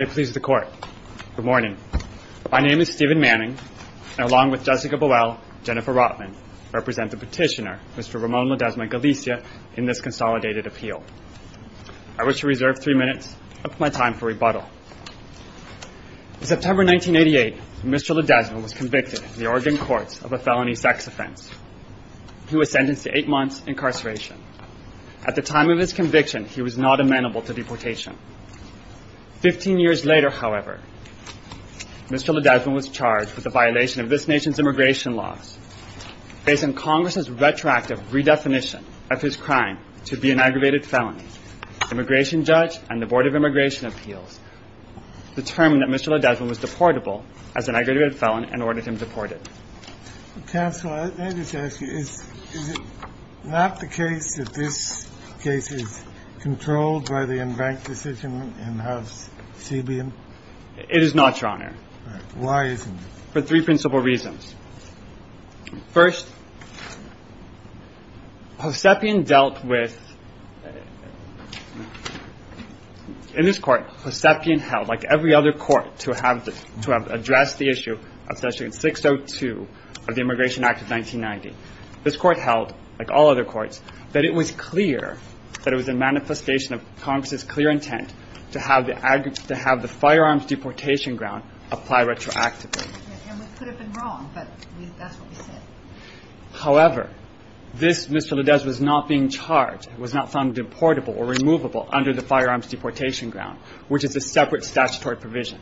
Good morning. My name is Stephen Manning, and along with Jessica Buell, Jennifer Rotman, I represent the petitioner, Mr. Ramon Lodezma-Galicia, in this consolidated appeal. I wish to reserve three minutes of my time for rebuttal. In September 1988, Mr. Lodezma was convicted in the Oregon courts of a felony sex offense. He was sentenced to eight months incarceration. At the time of his conviction, he was not amenable to deportation. Fifteen years later, however, Mr. Lodezma was charged with a violation of this nation's immigration laws. Based on Congress's retroactive redefinition of his crime to be an aggravated felony, the immigration judge and the Board of Immigration Appeals determined that Mr. Lodezma was deportable as an aggravated felon and ordered him deported. Counsel, may I just ask you, is it not the case that this case is controlled by the en banc decision in House CBM? It is not, Your Honor. Why isn't it? For three principal reasons. First, Hosepian dealt with – in this court, Hosepian held, like every other court to have addressed the issue, especially in 602 of the Immigration Act of 1990. This court held, like all other courts, that it was clear that it was a manifestation of Congress's clear intent to have the firearms deportation ground apply retroactively. And we could have been wrong, but that's what we said. However, this – Mr. Lodezma was not being charged, was not found deportable or removable under the firearms deportation ground, which is a separate statutory provision.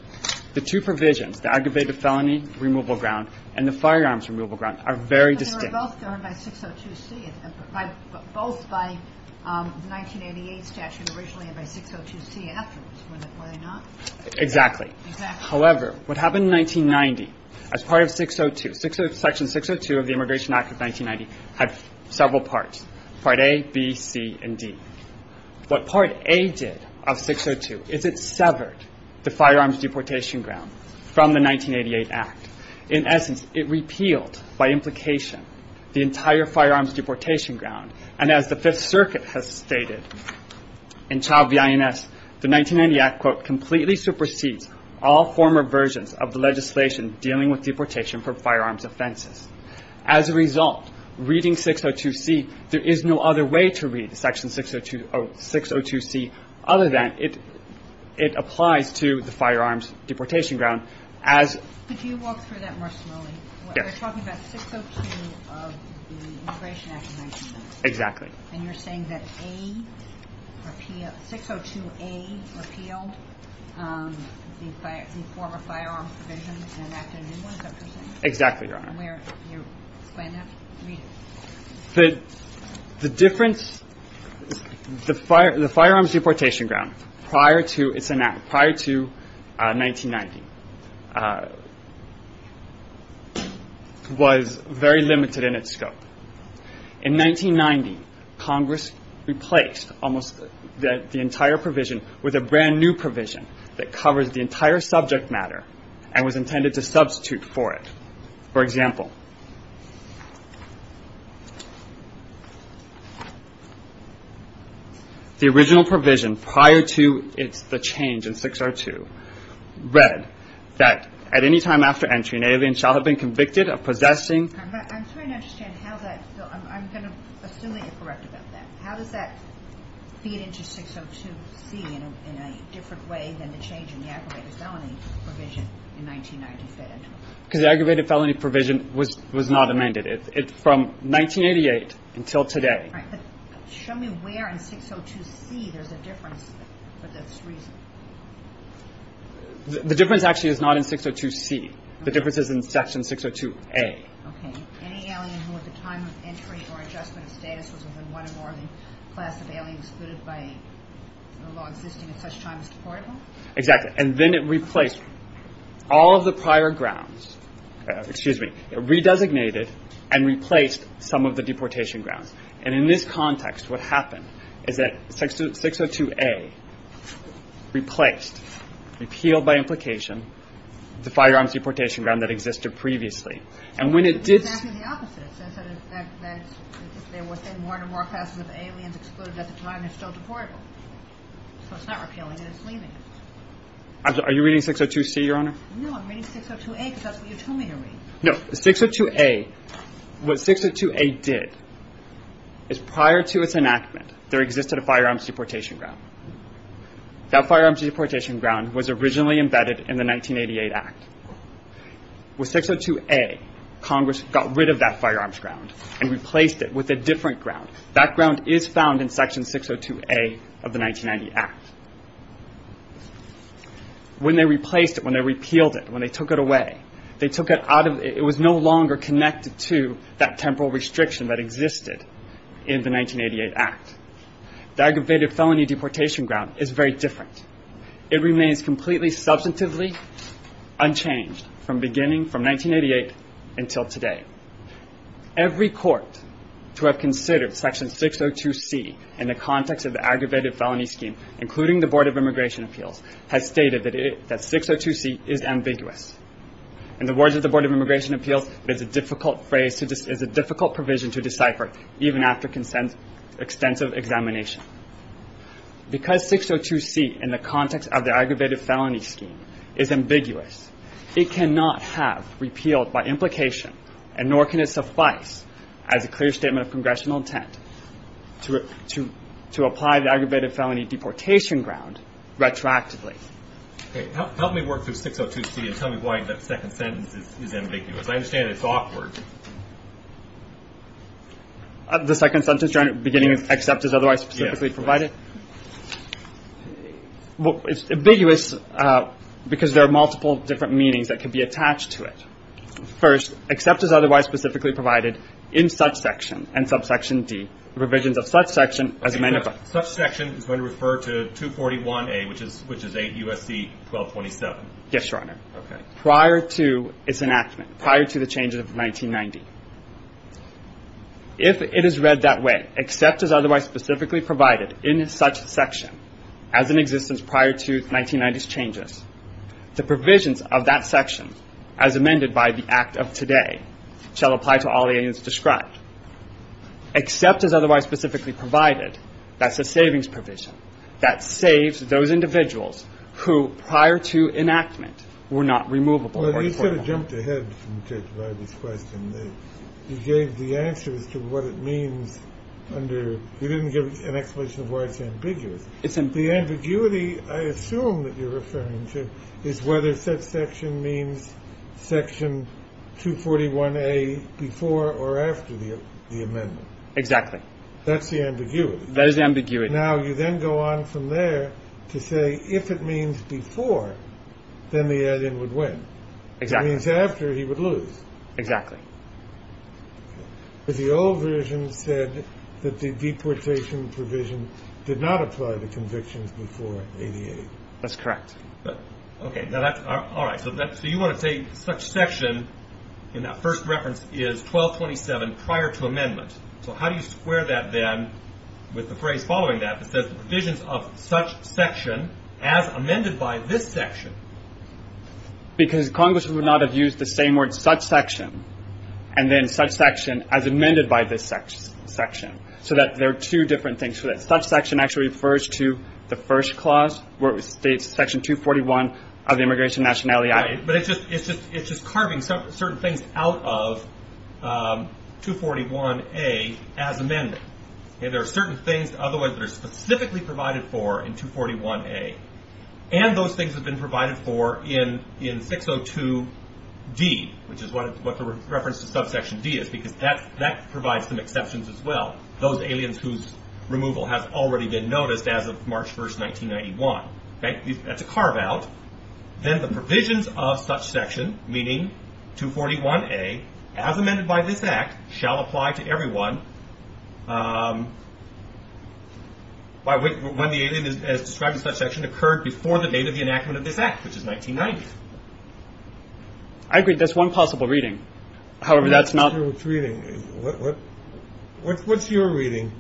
The two provisions, the aggravated felony removal ground and the firearms removal ground, are very distinct. But they were both done by 602C, both by the 1988 statute originally and by 602C afterwards, were they not? Exactly. However, what happened in 1990 as part of 602 – section 602 of the Immigration Act of 1990 had several parts, Part A, B, C, and D. What Part A did of 602 is it severed the firearms deportation ground from the 1988 Act. In essence, it repealed by implication the entire firearms deportation ground. And as the Fifth Circuit has stated in Child v. INS, the 1990 Act, quote, completely supersedes all former versions of the legislation dealing with deportation for firearms offenses. As a result, reading 602C, there is no other way to read section 602C other than it applies to the firearms deportation ground. Could you walk through that more slowly? Yes. You're talking about 602 of the Immigration Act of 1990. Exactly. And you're saying that 602A repealed the former firearms provision and enacted a new one, is that what you're saying? Exactly, Your Honor. And where you plan to read it? The difference – the firearms deportation ground prior to its – prior to 1990 was very limited in its scope. In 1990, Congress replaced almost the entire provision with a brand-new provision that covers the entire subject matter and was intended to substitute for it. For example, the original provision prior to the change in 602 read that at any time after entry, an alien shall have been convicted of possessing – I'm trying to understand how that – I'm going to assume that you're correct about that. How does that feed into 602C in a different way than the change in the aggravated felony provision in 1995? Because the aggravated felony provision was not amended. It's from 1988 until today. All right. But show me where in 602C there's a difference for this reason. The difference actually is not in 602C. The difference is in Section 602A. Okay. Any alien who at the time of entry or adjustment of status was within one or more of the class of aliens excluded by the law existing at such time as deportable? Exactly. And then it replaced all of the prior grounds. Excuse me. It re-designated and replaced some of the deportation grounds. And in this context, what happened is that 602A replaced, repealed by implication, the firearms deportation ground that existed previously. And when it did – It's exactly the opposite. They were within one or more classes of aliens excluded at the time and still deportable. So it's not repealing it. It's leaving it. Are you reading 602C, Your Honor? No, I'm reading 602A because that's what you told me to read. No. 602A, what 602A did is prior to its enactment, there existed a firearms deportation ground. That firearms deportation ground was originally embedded in the 1988 Act. With 602A, Congress got rid of that firearms ground and replaced it with a different ground. That ground is found in Section 602A of the 1990 Act. When they replaced it, when they repealed it, when they took it away, they took it out of – it was no longer connected to that temporal restriction that existed in the 1988 Act. The aggravated felony deportation ground is very different. It remains completely substantively unchanged from beginning – from 1988 until today. Every court to have considered Section 602C in the context of the aggravated felony scheme, including the Board of Immigration Appeals, has stated that 602C is ambiguous. In the words of the Board of Immigration Appeals, it's a difficult phrase – it's a difficult provision to decipher even after extensive examination. Because 602C in the context of the aggravated felony scheme is ambiguous, it cannot have repealed by implication, and nor can it suffice as a clear statement of Congressional intent to apply the aggravated felony deportation ground retroactively. Help me work through 602C and tell me why that second sentence is ambiguous. I understand it's awkward. The second sentence, Your Honor, beginning with except as otherwise specifically provided? Yes. Well, it's ambiguous because there are multiple different meanings that can be attached to it. First, except as otherwise specifically provided in such section and subsection D. The provisions of such section, as a matter of – Such section is going to refer to 241A, which is – which is 8 U.S.C. 1227. Yes, Your Honor. Okay. Prior to its enactment, prior to the changes of 1990. If it is read that way, except as otherwise specifically provided in such section as in existence prior to 1990's changes, the provisions of that section, as amended by the Act of today, shall apply to all aliens described. Except as otherwise specifically provided, that's a savings provision. That saves those individuals who prior to enactment were not removable. Well, you sort of jumped ahead by this question. You gave the answers to what it means under – you didn't give an explanation of why it's ambiguous. The ambiguity, I assume, that you're referring to is whether such section means section 241A before or after the amendment. Exactly. That's the ambiguity. That is the ambiguity. Now, you then go on from there to say if it means before, then the alien would win. Exactly. If it means after, he would lose. Exactly. The old version said that the deportation provision did not apply to convictions before 88. That's correct. Okay. All right. So you want to say such section in that first reference is 1227 prior to amendment. So how do you square that then with the phrase following that that says the provisions of such section as amended by this section? Because Congress would not have used the same word such section and then such section as amended by this section. So there are two different things. So that such section actually refers to the first clause, where it states section 241 of the immigration nationality act. Right. But it's just carving certain things out of 241A as amended. There are certain things that are specifically provided for in 241A, and those things have been provided for in 602D, which is what the reference to subsection D is, because that provides some exceptions as well, those aliens whose removal has already been noticed as of March 1, 1991. That's a carve out. Then the provisions of such section, meaning 241A, as amended by this act, shall apply to everyone when the alien as described in such section occurred before the date of the enactment of this act, which is 1990. I agree. That's one possible reading. However, that's not. What's your reading?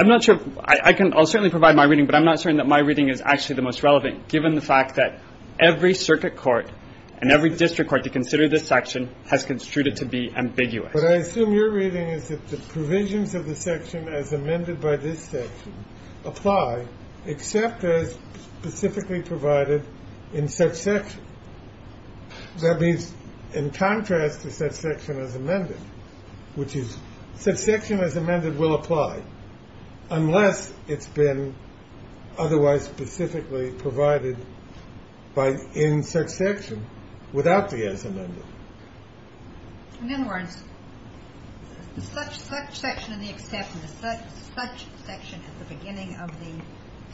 I'm not sure. I can certainly provide my reading, but I'm not certain that my reading is actually the most relevant, given the fact that every circuit court and every district court to consider this section has construed it to be ambiguous. But I assume your reading is that the provisions of the section as amended by this section apply, except as specifically provided in subsection. That means in contrast to subsection as amended, which is subsection as amended will apply unless it's been otherwise specifically provided in subsection without the as amended. In other words, such section and the exception, such section at the beginning of the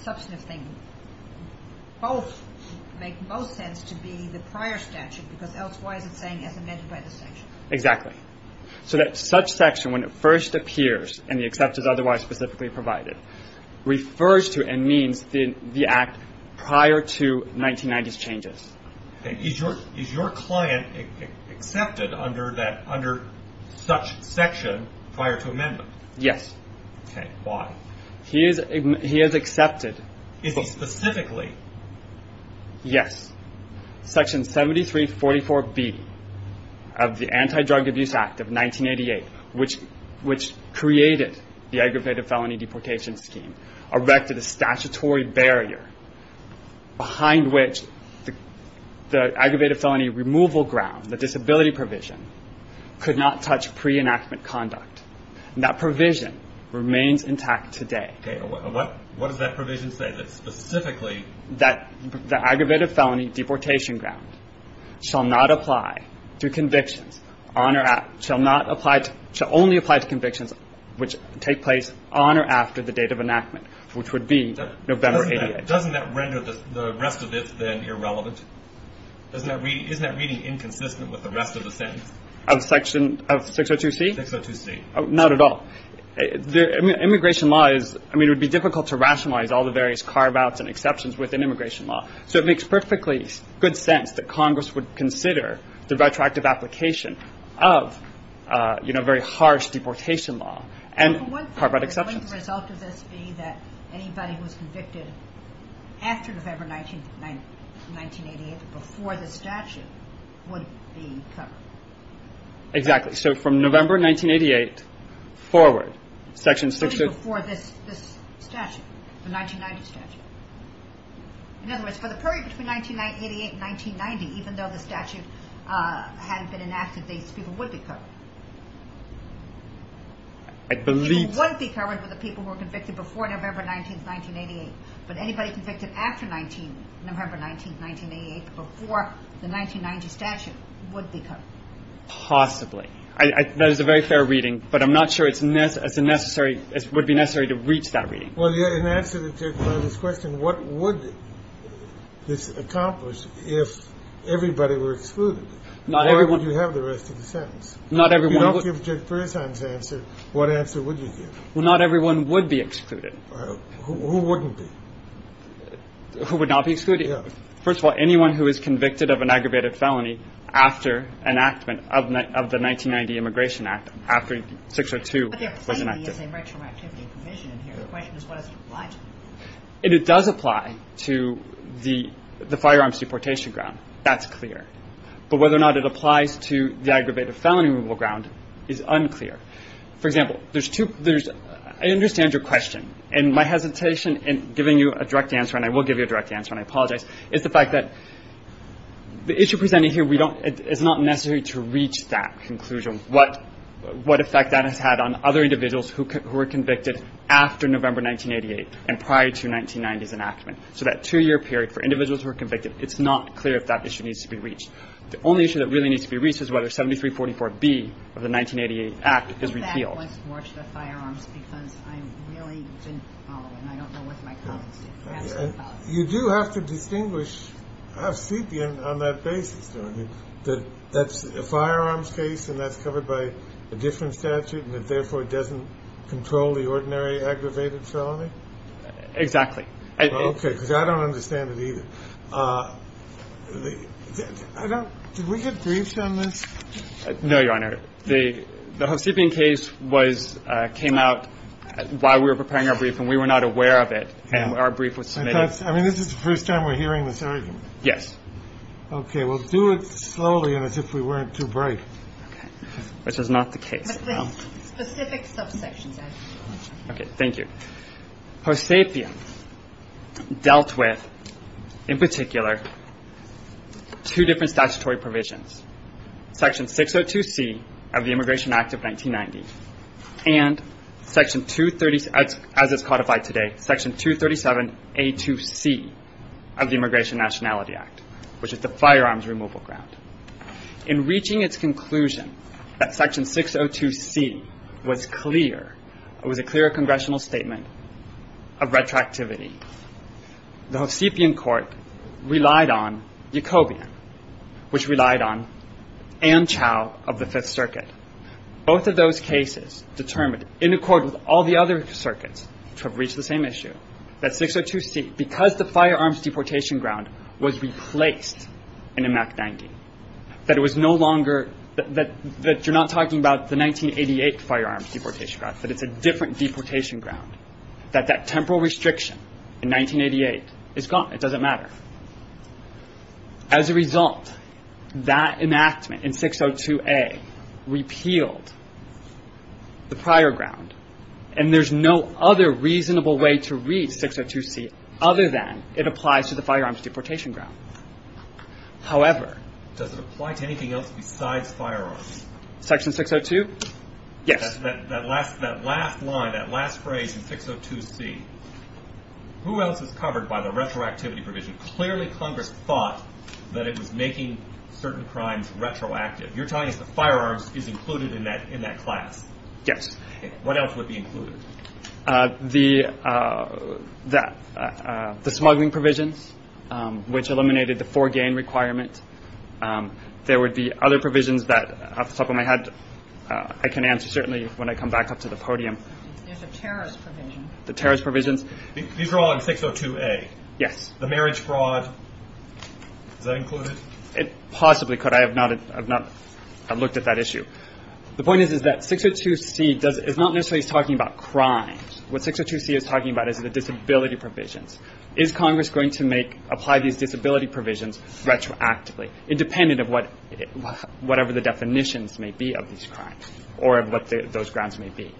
substantive thing, both make most sense to be the prior statute, because else why is it saying as amended by the section? Exactly. So that such section, when it first appears and the exception is otherwise specifically provided, refers to and means the act prior to 1990s changes. Okay. Is your client accepted under such section prior to amendment? Yes. Okay. Why? He is accepted. Is he specifically? Yes. Section 7344B of the Anti-Drug Abuse Act of 1988, which created the Aggravated Felony Deportation Scheme, erected a statutory barrier behind which the Aggravated Felony Removal Ground, the disability provision, could not touch pre-enactment conduct. That provision remains intact today. Okay. What does that provision say that specifically? That the Aggravated Felony Deportation Ground shall not apply to convictions on or after, shall only apply to convictions which take place on or after the date of enactment, which would be November 88. Doesn't that render the rest of it then irrelevant? Isn't that reading inconsistent with the rest of the sentence? Of section 602C? 602C. Not at all. Immigration law is, I mean, it would be difficult to rationalize all the various carve-outs and exceptions within immigration law. So it makes perfectly good sense that Congress would consider the retroactive application of very harsh deportation law and carve-out exceptions. Wouldn't the result of this be that anybody who was convicted after November 1988, before the statute, would be covered? Exactly. So from November 1988 forward, section 602... Only before this statute, the 1990 statute. In other words, for the period between 1988 and 1990, even though the statute hadn't been enacted, these people would be covered. I believe... People would be covered with the people who were convicted before November 19th, 1988. But anybody convicted after November 19th, 1988, before the 1990 statute, would be covered. Possibly. That is a very fair reading, but I'm not sure it would be necessary to reach that reading. Well, in answer to this question, what would this accomplish if everybody were excluded? Not everyone... Or would you have the rest of the sentence? Not everyone... If you don't give Judge Berzahn's answer, what answer would you give? Well, not everyone would be excluded. Who wouldn't be? Who would not be excluded? First of all, anyone who is convicted of an aggravated felony after enactment of the 1990 Immigration Act, after 602 was enacted. But there clearly is a retroactivity provision in here. The question is, what does it apply to? It does apply to the firearms deportation ground. That's clear. But whether or not it applies to the aggravated felony removal ground is unclear. For example, there's two... I understand your question, and my hesitation in giving you a direct answer, and I will give you a direct answer and I apologize, is the fact that the issue presented here, it's not necessary to reach that conclusion, what effect that has had on other individuals who were convicted after November 1988 and prior to 1990's enactment. So that two-year period for individuals who were convicted, it's not clear if that issue needs to be reached. The only issue that really needs to be reached is whether 7344B of the 1988 Act is repealed. I think that was more to the firearms, because I really didn't follow it, and I don't know what my comments are. You do have to distinguish... I've seen you on that basis, that that's a firearms case, and that's covered by a different statute, and it therefore doesn't control the ordinary aggravated felony? Exactly. Okay, because I don't understand it either. Did we get briefs on this? No, Your Honor. The Hovsepian case came out while we were preparing our brief, and we were not aware of it, and our brief was submitted... I mean, this is the first time we're hearing this argument. Yes. Okay, well, do it slowly, as if we weren't too brave. Okay. Which is not the case. But the specifics of Section 7. Okay, thank you. Hovsepian dealt with, in particular, two different statutory provisions, Section 602C of the Immigration Act of 1990, and Section 237, as it's codified today, Section 237A2C of the Immigration Nationality Act. Which is the firearms removal ground. In reaching its conclusion that Section 602C was clear, it was a clear congressional statement of retroactivity, the Hovsepian court relied on Yacobian, which relied on Ann Chau of the Fifth Circuit. Both of those cases determined, in accord with all the other circuits which have reached the same issue, that 602C, because the firearms deportation ground was replaced in Emact 90, that it was no longer... that you're not talking about the 1988 firearms deportation ground, that it's a different deportation ground, that that temporal restriction in 1988 is gone. It doesn't matter. As a result, that enactment in 602A repealed the prior ground, and there's no other reasonable way to reach 602C other than it applies to the firearms deportation ground. However... Does it apply to anything else besides firearms? Section 602? Yes. That last line, that last phrase in 602C, who else is covered by the retroactivity provision? Clearly Congress thought that it was making certain crimes retroactive. You're telling us the firearms is included in that class? Yes. What else would be included? The smuggling provisions, which eliminated the foregain requirement. There would be other provisions that, off the top of my head, I can answer certainly when I come back up to the podium. There's a terrorist provision. The terrorist provisions. These are all in 602A. Yes. The marriage fraud, is that included? It possibly could. I have not looked at that issue. The point is that 602C is not necessarily talking about crimes. What 602C is talking about is the disability provisions. Is Congress going to apply these disability provisions retroactively, independent of whatever the definitions may be of these crimes, or of what those grounds may be?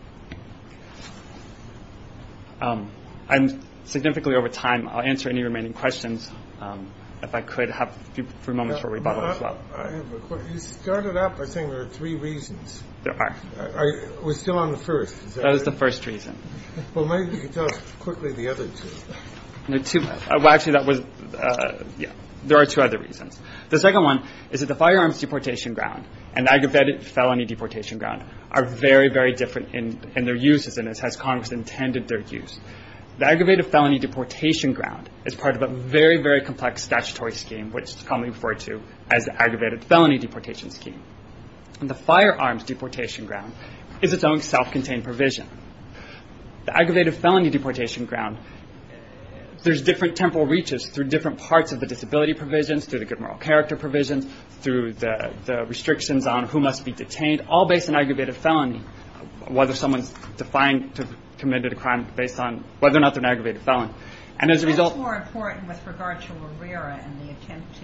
I'm significantly over time. I'll answer any remaining questions if I could. I have a few moments for rebuttal as well. I have a question. You started out by saying there are three reasons. There are. I was still on the first. That was the first reason. Well, maybe you could tell us quickly the other two. There are two other reasons. The second one is that the firearms deportation ground and aggravated felony deportation ground are very, very different in their uses and as has Congress intended their use. The aggravated felony deportation ground is part of a very, very complex statutory scheme, which is commonly referred to as the aggravated felony deportation scheme. The firearms deportation ground is its own self-contained provision. The aggravated felony deportation ground, there's different temporal reaches through different parts of the disability provisions, through the good moral character provisions, through the restrictions on who must be detained, all based on aggravated felony, whether someone's defined to have committed a crime based on whether or not they're an aggravated felon. That's more important with regard to RERA and the attempt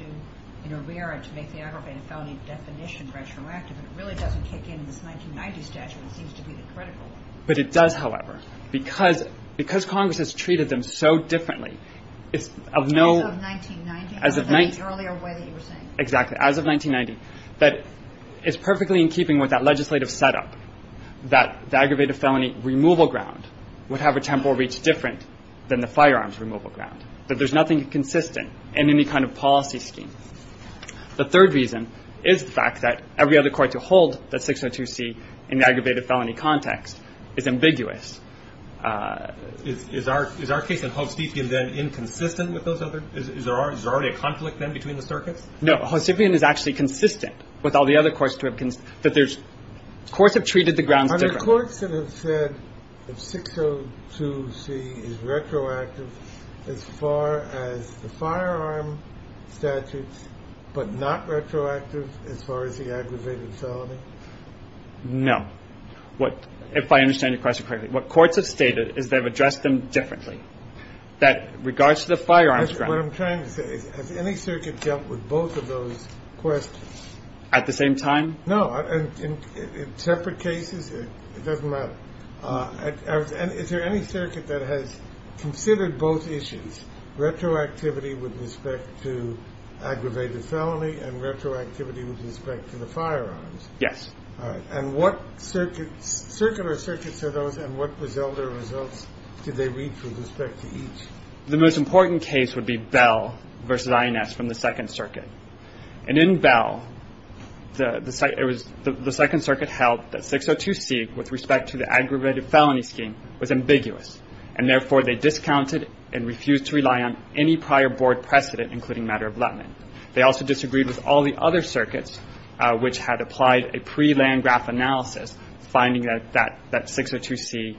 in RERA to make the aggravated felony definition retroactive. It really doesn't kick in in this 1990 statute. It seems to be the critical one. But it does, however. Because Congress has treated them so differently, as of 1990, as of the earlier way that you were saying. Exactly. As of 1990. It's perfectly in keeping with that legislative setup that the aggravated felony removal ground would have a temporal reach that's different than the firearms removal ground. That there's nothing consistent in any kind of policy scheme. The third reason is the fact that every other court to hold that 602C in the aggravated felony context is ambiguous. Is our case in Hostipian then inconsistent with those other? Is there already a conflict then between the circuits? No. Hostipian is actually consistent with all the other courts. Courts have treated the grounds differently. Are there courts that have said that 602C is retroactive as far as the firearm statutes, but not retroactive as far as the aggravated felony? No. If I understand your question correctly, what courts have stated is they've addressed them differently. That in regards to the firearms ground. That's what I'm trying to say. Has any circuit dealt with both of those questions? At the same time? No. In separate cases? It doesn't matter. Is there any circuit that has considered both issues? Retroactivity with respect to aggravated felony and retroactivity with respect to the firearms? Yes. All right. What circular circuits are those and what results did they reach with respect to each? The most important case would be Bell v. INS from the Second Circuit. In Bell, the Second Circuit held that 602C with respect to the aggravated felony scheme was ambiguous, and therefore they discounted and refused to rely on any prior board precedent, including matter of lethman. They also disagreed with all the other circuits which had applied a pre-land graph analysis, finding that 602C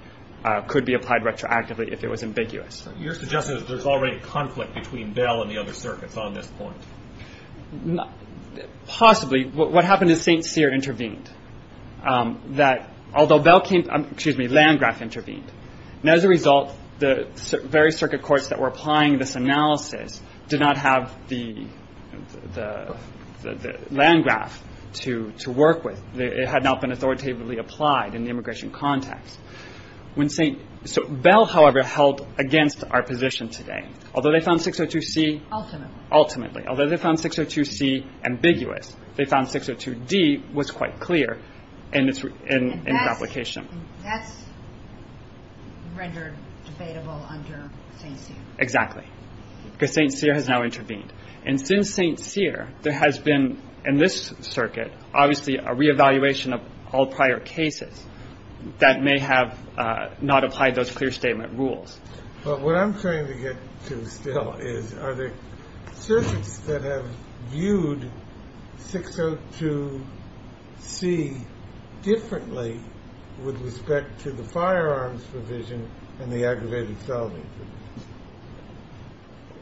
could be applied retroactively if it was ambiguous. You're suggesting that there's already a conflict between Bell and the other circuits on this point? Possibly. What happened is St. Cyr intervened, although Bell came to land graph intervene. As a result, the various circuit courts that were applying this analysis did not have the land graph to work with. It had not been authoritatively applied in the immigration context. So Bell, however, held against our position today. Although they found 602C... Ultimately. Ultimately. Although they found 602C ambiguous, they found 602D was quite clear in its application. And that's rendered debatable under St. Cyr. Exactly. Because St. Cyr has now intervened. And since St. Cyr, there has been, in this circuit, obviously a reevaluation of all prior cases that may have not applied those clear statement rules. But what I'm trying to get to still is are there circuits that have viewed 602C differently with respect to the firearms provision and the aggravated felony provision?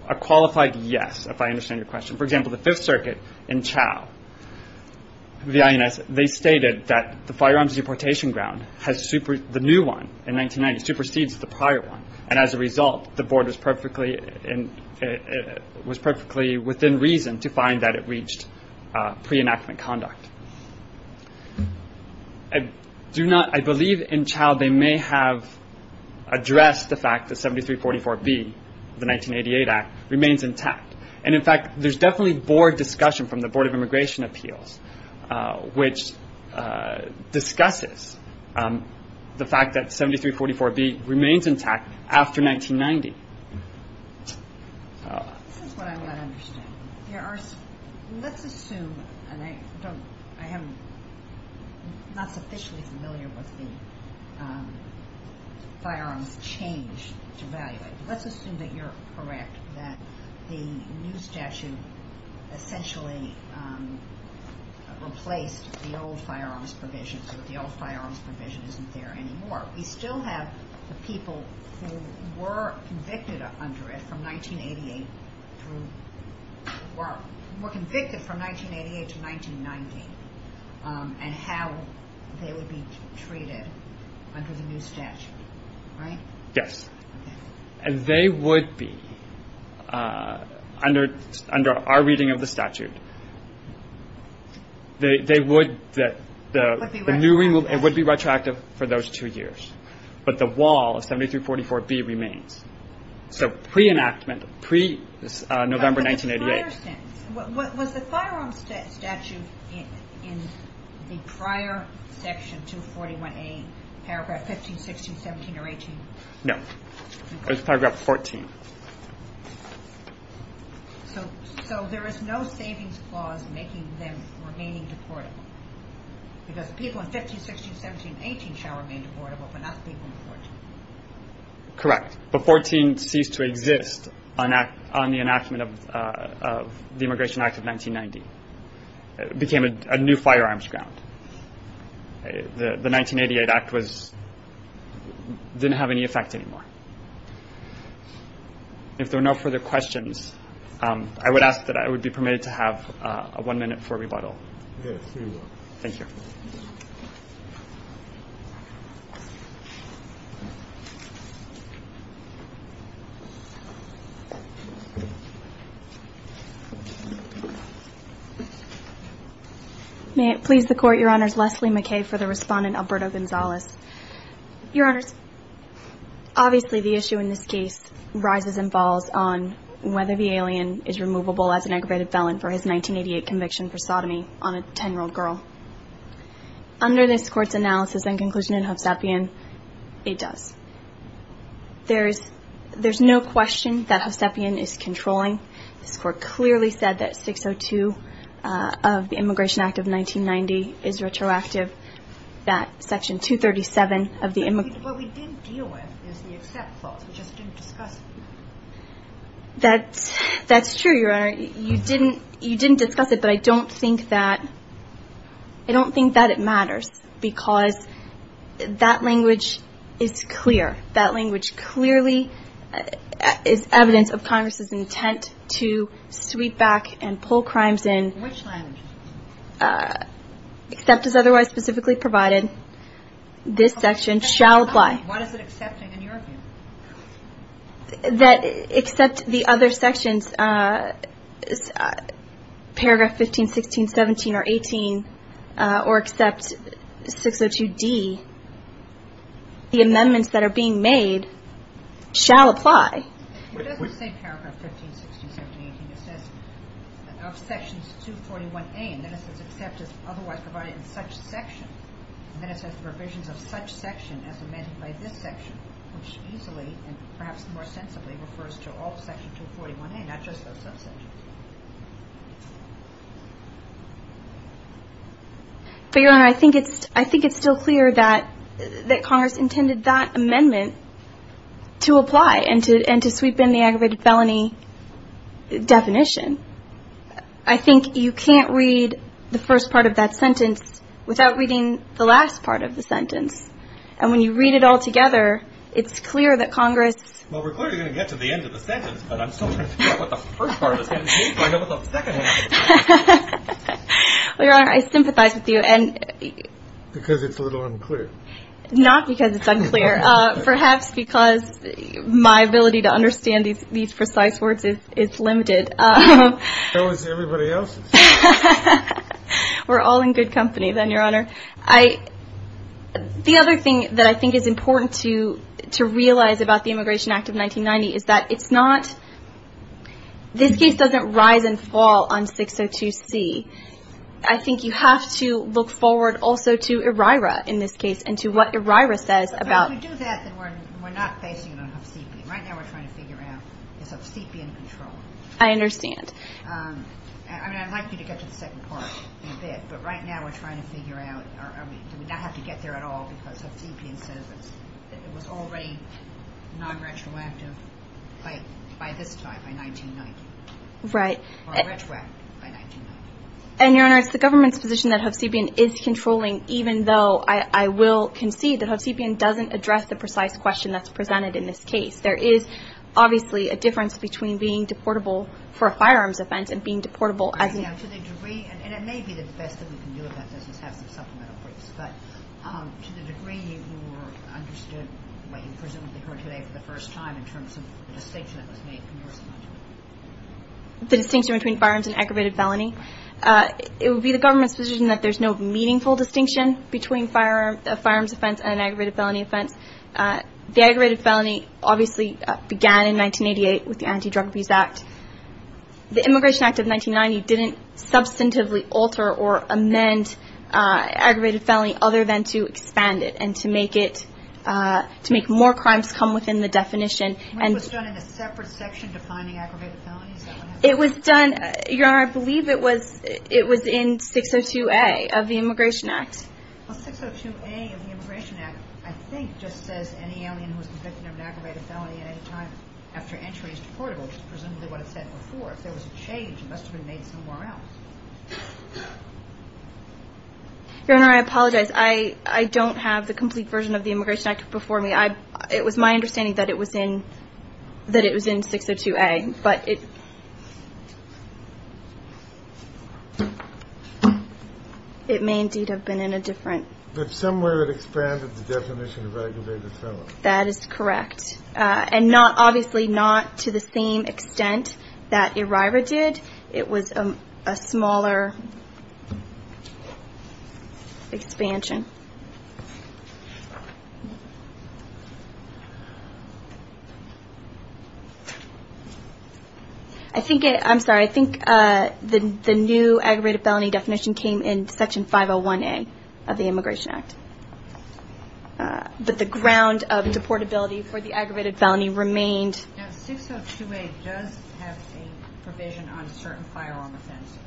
A qualified yes, if I understand your question. For example, the Fifth Circuit in Chao, the INS, they stated that the firearms deportation ground, the new one in 1990, supersedes the prior one. And as a result, the board was perfectly within reason to find that it reached pre-enactment conduct. I believe in Chao they may have addressed the fact that 7344B, the 1988 Act, remains intact. And in fact, there's definitely board discussion from the Board of Immigration Appeals, which discusses the fact that 7344B remains intact after 1990. This is what I want to understand. Let's assume, and I am not sufficiently familiar with the firearms change to value. Let's assume that you're correct, that the new statute essentially replaced the old firearms provision so that the old firearms provision isn't there anymore. We still have the people who were convicted from 1988 to 1990 and how they would be treated under the new statute, right? Yes. And they would be, under our reading of the statute, it would be retroactive for those two years. But the wall of 7344B remains. So pre-enactment, pre-November 1988. Was the firearms statute in the prior section, 241A, paragraph 15, 16, 17, or 18? No. It was paragraph 14. So there is no savings clause making them remaining deportable because people in 15, 16, 17, 18 shall remain deportable, but not people in 14. Correct. But 14 ceased to exist on the enactment of the Immigration Act of 1990. It became a new firearms ground. The 1988 Act didn't have any effect anymore. If there are no further questions, I would ask that I would be permitted to have one minute for rebuttal. Yes, here you are. Thank you. May it please the Court, Your Honors, Leslie McKay for the respondent, Alberto Gonzalez. Your Honors, obviously the issue in this case rises and falls on whether the alien is removable as an aggravated felon for his 1988 conviction for sodomy on a 10-year-old girl. Under this Court's analysis and conclusion in Hovstapian, it does. There's no question that Hovstapian is controlling. This Court clearly said that 602 of the Immigration Act of 1990 is retroactive, that Section 237 of the Immigration Act of 1990 is retroactive. What we didn't deal with is the accept clause. That's true, Your Honor. You didn't discuss it, but I don't think that it matters because that language is clear. That language clearly is evidence of Congress's intent to sweep back and pull crimes in. Which language? Except as otherwise specifically provided, this section shall apply. What is it accepting in your view? That except the other sections, Paragraph 15, 16, 17, or 18, or except 602D, the amendments that are being made shall apply. It doesn't say Paragraph 15, 16, 17, 18. It says of Sections 241A, and then it says except as otherwise provided in such sections. And then it says provisions of such section as amended by this section, which easily and perhaps more sensibly refers to all Section 241A, not just those subsections. But, Your Honor, I think it's still clear that Congress intended that amendment to apply and to sweep in the aggravated felony definition. I think you can't read the first part of that sentence without reading the last part of the sentence. And when you read it all together, it's clear that Congress… Well, we're clearly going to get to the end of the sentence, but I'm still trying to figure out what the first part of the sentence means before I know what the second part of the sentence means. Well, Your Honor, I sympathize with you. Because it's a little unclear. Not because it's unclear. Perhaps because my ability to understand these precise words is limited. So is everybody else's. We're all in good company then, Your Honor. The other thing that I think is important to realize about the Immigration Act of 1990 is that it's not… this case doesn't rise and fall on 602C. I think you have to look forward also to ERIRA in this case and to what ERIRA says about… But if we do that, then we're not facing an obstacle. Right now we're trying to figure out this obstacle in control. I understand. I mean, I'd like you to get to the second part in a bit, but right now we're trying to figure out, I mean, do we not have to get there at all because Hovsepian says it was already non-retroactive by this time, by 1990. Right. Or retroactive by 1990. And, Your Honor, it's the government's position that Hovsepian is controlling, even though I will concede that Hovsepian doesn't address the precise question that's presented in this case. There is obviously a difference between being deportable for a firearms offense and being deportable as a… To the degree, and it may be the best that we can do about this, is have some supplemental briefs, but to the degree you understood what you presumably heard today for the first time in terms of the distinction that was made from your side? The distinction between firearms and aggravated felony? It would be the government's position that there's no meaningful distinction between a firearms offense and an aggravated felony offense. The aggravated felony obviously began in 1988 with the Anti-Drug Abuse Act. The Immigration Act of 1990 didn't substantively alter or amend aggravated felony other than to expand it and to make more crimes come within the definition. What was done in a separate section defining aggravated felony? Is that what happened? It was done, Your Honor, I believe it was in 602A of the Immigration Act. Well, 602A of the Immigration Act, I think, just says any alien who is convicted of an aggravated felony at any time after entry is deportable, which is presumably what it said before. If there was a change, it must have been made somewhere else. Your Honor, I apologize. I don't have the complete version of the Immigration Act before me. It was my understanding that it was in 602A, but it may indeed have been in a different. But somewhere it expanded the definition of aggravated felony. That is correct. And obviously not to the same extent that ERIRA did. It was a smaller expansion. I'm sorry. I think the new aggravated felony definition came in Section 501A of the Immigration Act. But the ground of deportability for the aggravated felony remained. 602A does have a provision on certain firearm offenses.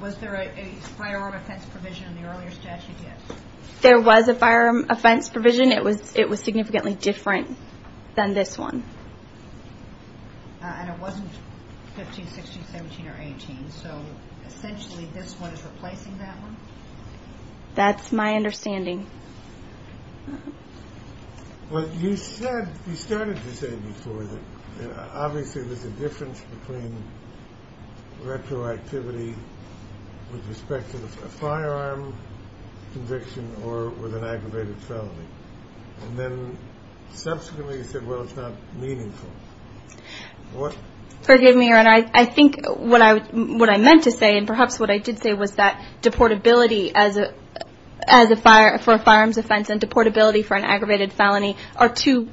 Was there a firearm offense provision in the earlier statute yet? There was a firearm offense provision. It was significantly different than this one. And it wasn't 15, 16, 17, or 18. So essentially this one is replacing that one? That's my understanding. You started to say before that obviously there's a difference between retroactivity with respect to a firearm conviction or with an aggravated felony. And then subsequently you said, well, it's not meaningful. Forgive me, Aaron. I think what I meant to say, and perhaps what I did say, was that deportability for a firearms offense and deportability for an aggravated felony are two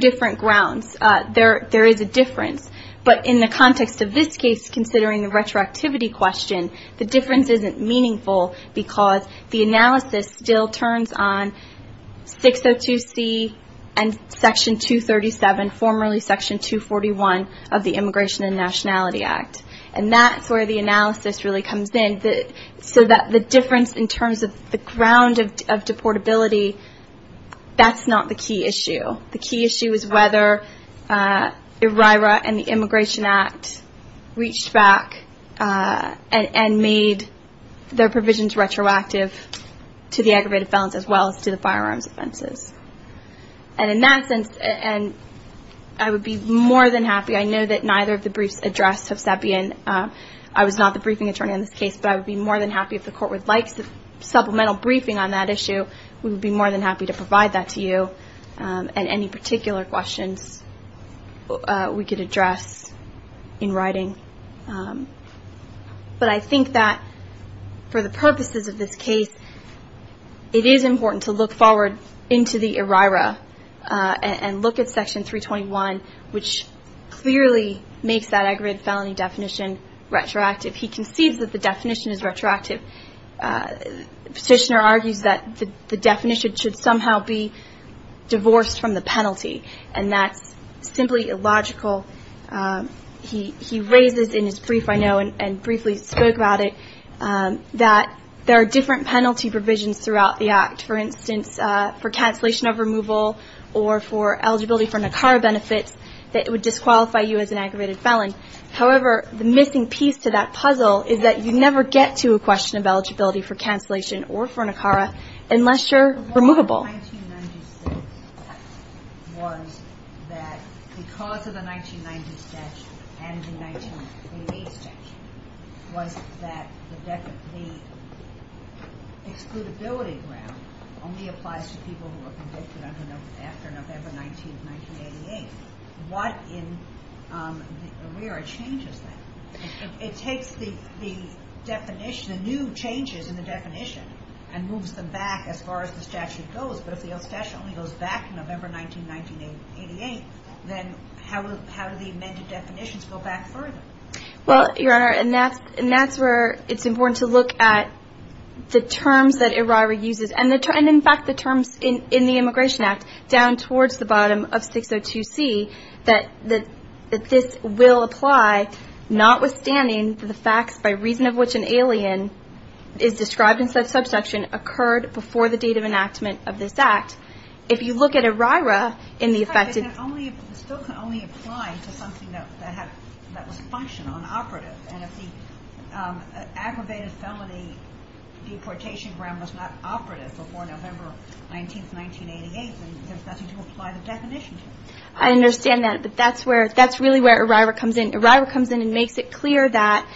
different grounds. There is a difference. But in the context of this case, considering the retroactivity question, the difference isn't meaningful because the analysis still turns on 602C and Section 237, formerly Section 241 of the Immigration and Nationality Act. And that's where the analysis really comes in, so that the difference in terms of the ground of deportability, that's not the key issue. The key issue is whether ERIRA and the Immigration Act reached back and made their provisions retroactive to the aggravated felons as well as to the firearms offenses. And in that sense, I would be more than happy. I know that neither of the briefs addressed Hovsepian. I was not the briefing attorney on this case, but I would be more than happy if the Court would like supplemental briefing on that issue. We would be more than happy to provide that to you and any particular questions we could address in writing. But I think that for the purposes of this case, it is important to look forward into the ERIRA and look at Section 321, which clearly makes that aggravated felony definition retroactive. He concedes that the definition is retroactive. The Petitioner argues that the definition should somehow be divorced from the penalty, and that's simply illogical. He raises in his brief, I know, and briefly spoke about it, that there are different penalty provisions throughout the Act, for instance, for cancellation of removal or for eligibility for NACARA benefits that would disqualify you as an aggravated felon. However, the missing piece to that puzzle is that you never get to a question of eligibility for cancellation or for NACARA unless you're removable. 1996 was that because of the 1990 statute and the 1988 statute, was that the excludability ground only applies to people who are convicted after November 19, 1988. What in the ERIRA changes that? It takes the definition, the new changes in the definition, and moves them back as far as the statute goes, but if the statute only goes back to November 19, 1988, then how do the amended definitions go back further? Well, Your Honor, and that's where it's important to look at the terms that ERIRA uses, and in fact the terms in the Immigration Act down towards the bottom of 602C, that this will apply notwithstanding the facts by reason of which an alien is described and said subsection occurred before the date of enactment of this act. If you look at ERIRA in the effected... But it still can only apply to something that was functional and operative, and if the aggravated felony deportation ground was not operative before November 19, 1988, then there's nothing to apply the definition to. I understand that, but that's really where ERIRA comes in. ERIRA comes in and makes it clear that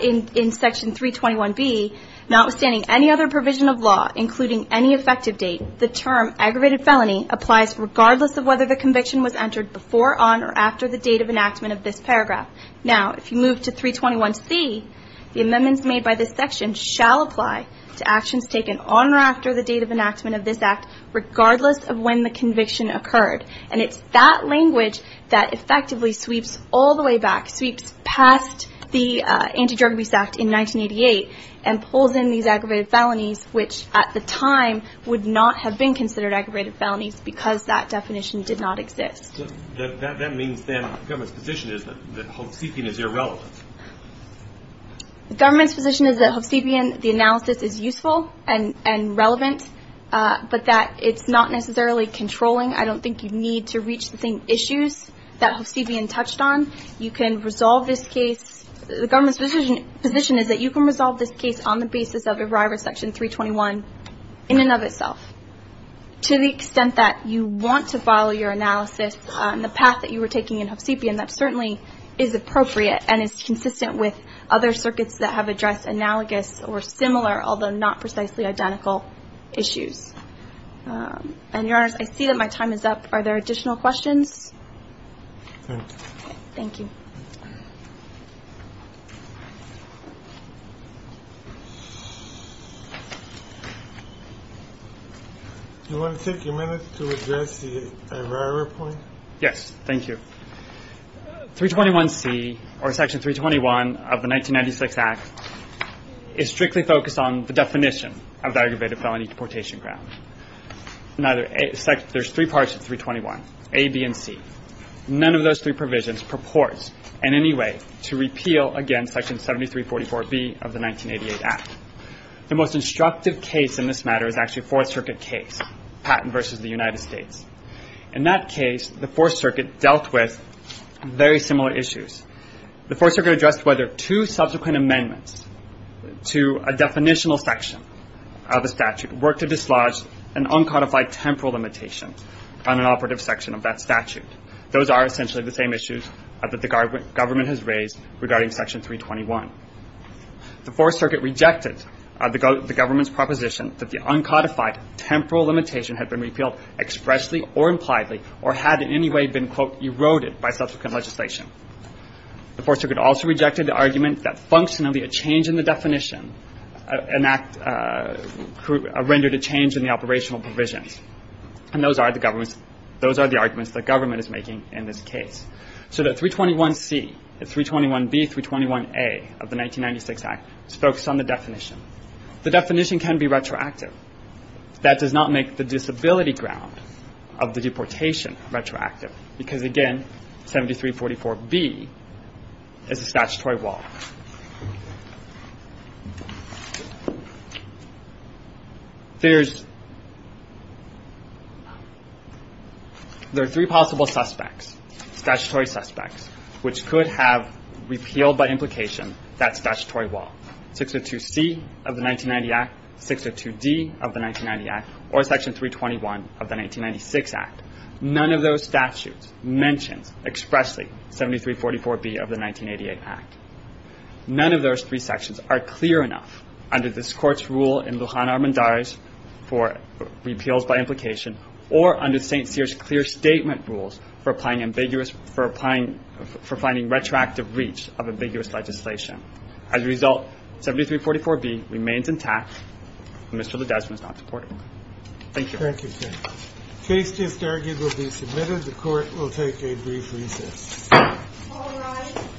in Section 321B, notwithstanding any other provision of law, including any effective date, the term aggravated felony applies regardless of whether the conviction was entered before, on, or after the date of enactment of this paragraph. Now, if you move to 321C, the amendments made by this section shall apply to actions taken on or after the date of enactment of this act, regardless of when the conviction occurred, and it's that language that effectively sweeps all the way back, sweeps past the Anti-Drug Abuse Act in 1988, and pulls in these aggravated felonies, which at the time would not have been considered aggravated felonies because that definition did not exist. That means then the government's position is that Hovsepian is irrelevant. The government's position is that Hovsepian, the analysis, is useful and relevant, but that it's not necessarily controlling. I don't think you need to reach the same issues that Hovsepian touched on. You can resolve this case. The government's position is that you can resolve this case on the basis of Arrival Section 321 in and of itself. To the extent that you want to follow your analysis and the path that you were taking in Hovsepian, that certainly is appropriate and is consistent with other circuits that have addressed analogous or similar, although not precisely identical, issues. And, Your Honors, I see that my time is up. Are there additional questions? Thank you. Do you want to take a minute to address the arrival point? Yes, thank you. 321C, or Section 321 of the 1996 Act, is strictly focused on the definition of the aggravated felony deportation ground. There's three parts of 321, A, B, and C. None of those three provisions purports in any way to repeal, again, Section 7344B of the 1988 Act. The most instructive case in this matter is actually a Fourth Circuit case, Patton v. the United States. In that case, the Fourth Circuit dealt with very similar issues. The Fourth Circuit addressed whether two subsequent amendments to a definitional section of a statute were to dislodge an uncodified temporal limitation on an operative section of that statute. Those are essentially the same issues that the government has raised regarding Section 321. The Fourth Circuit rejected the government's proposition that the uncodified temporal limitation had been repealed expressly or impliedly or had in any way been, quote, eroded by subsequent legislation. The Fourth Circuit also rejected the argument that functionally a change in the definition rendered a change in the operational provisions. And those are the arguments the government is making in this case. So that 321C, 321B, 321A of the 1996 Act is focused on the definition. The definition can be retroactive. That does not make the disability ground of the deportation retroactive because, again, 7344B is a statutory wall. There are three possible suspects, statutory suspects, which could have repealed by implication that statutory wall. 602C of the 1990 Act, 602D of the 1990 Act, or Section 321 of the 1996 Act. None of those statutes mentions expressly 7344B of the 1988 Act. None of those three sections are clear enough under this Court's rule in Luján Armendariz for repeals by implication or under St. Cyr's clear statement rules for finding retroactive reach of ambiguous legislation. As a result, 7344B remains intact. Mr. Ledesma is not deported. Thank you. Thank you, sir. The case just argued will be submitted. The Court will take a brief recess. All rise. Please watch the standard recess.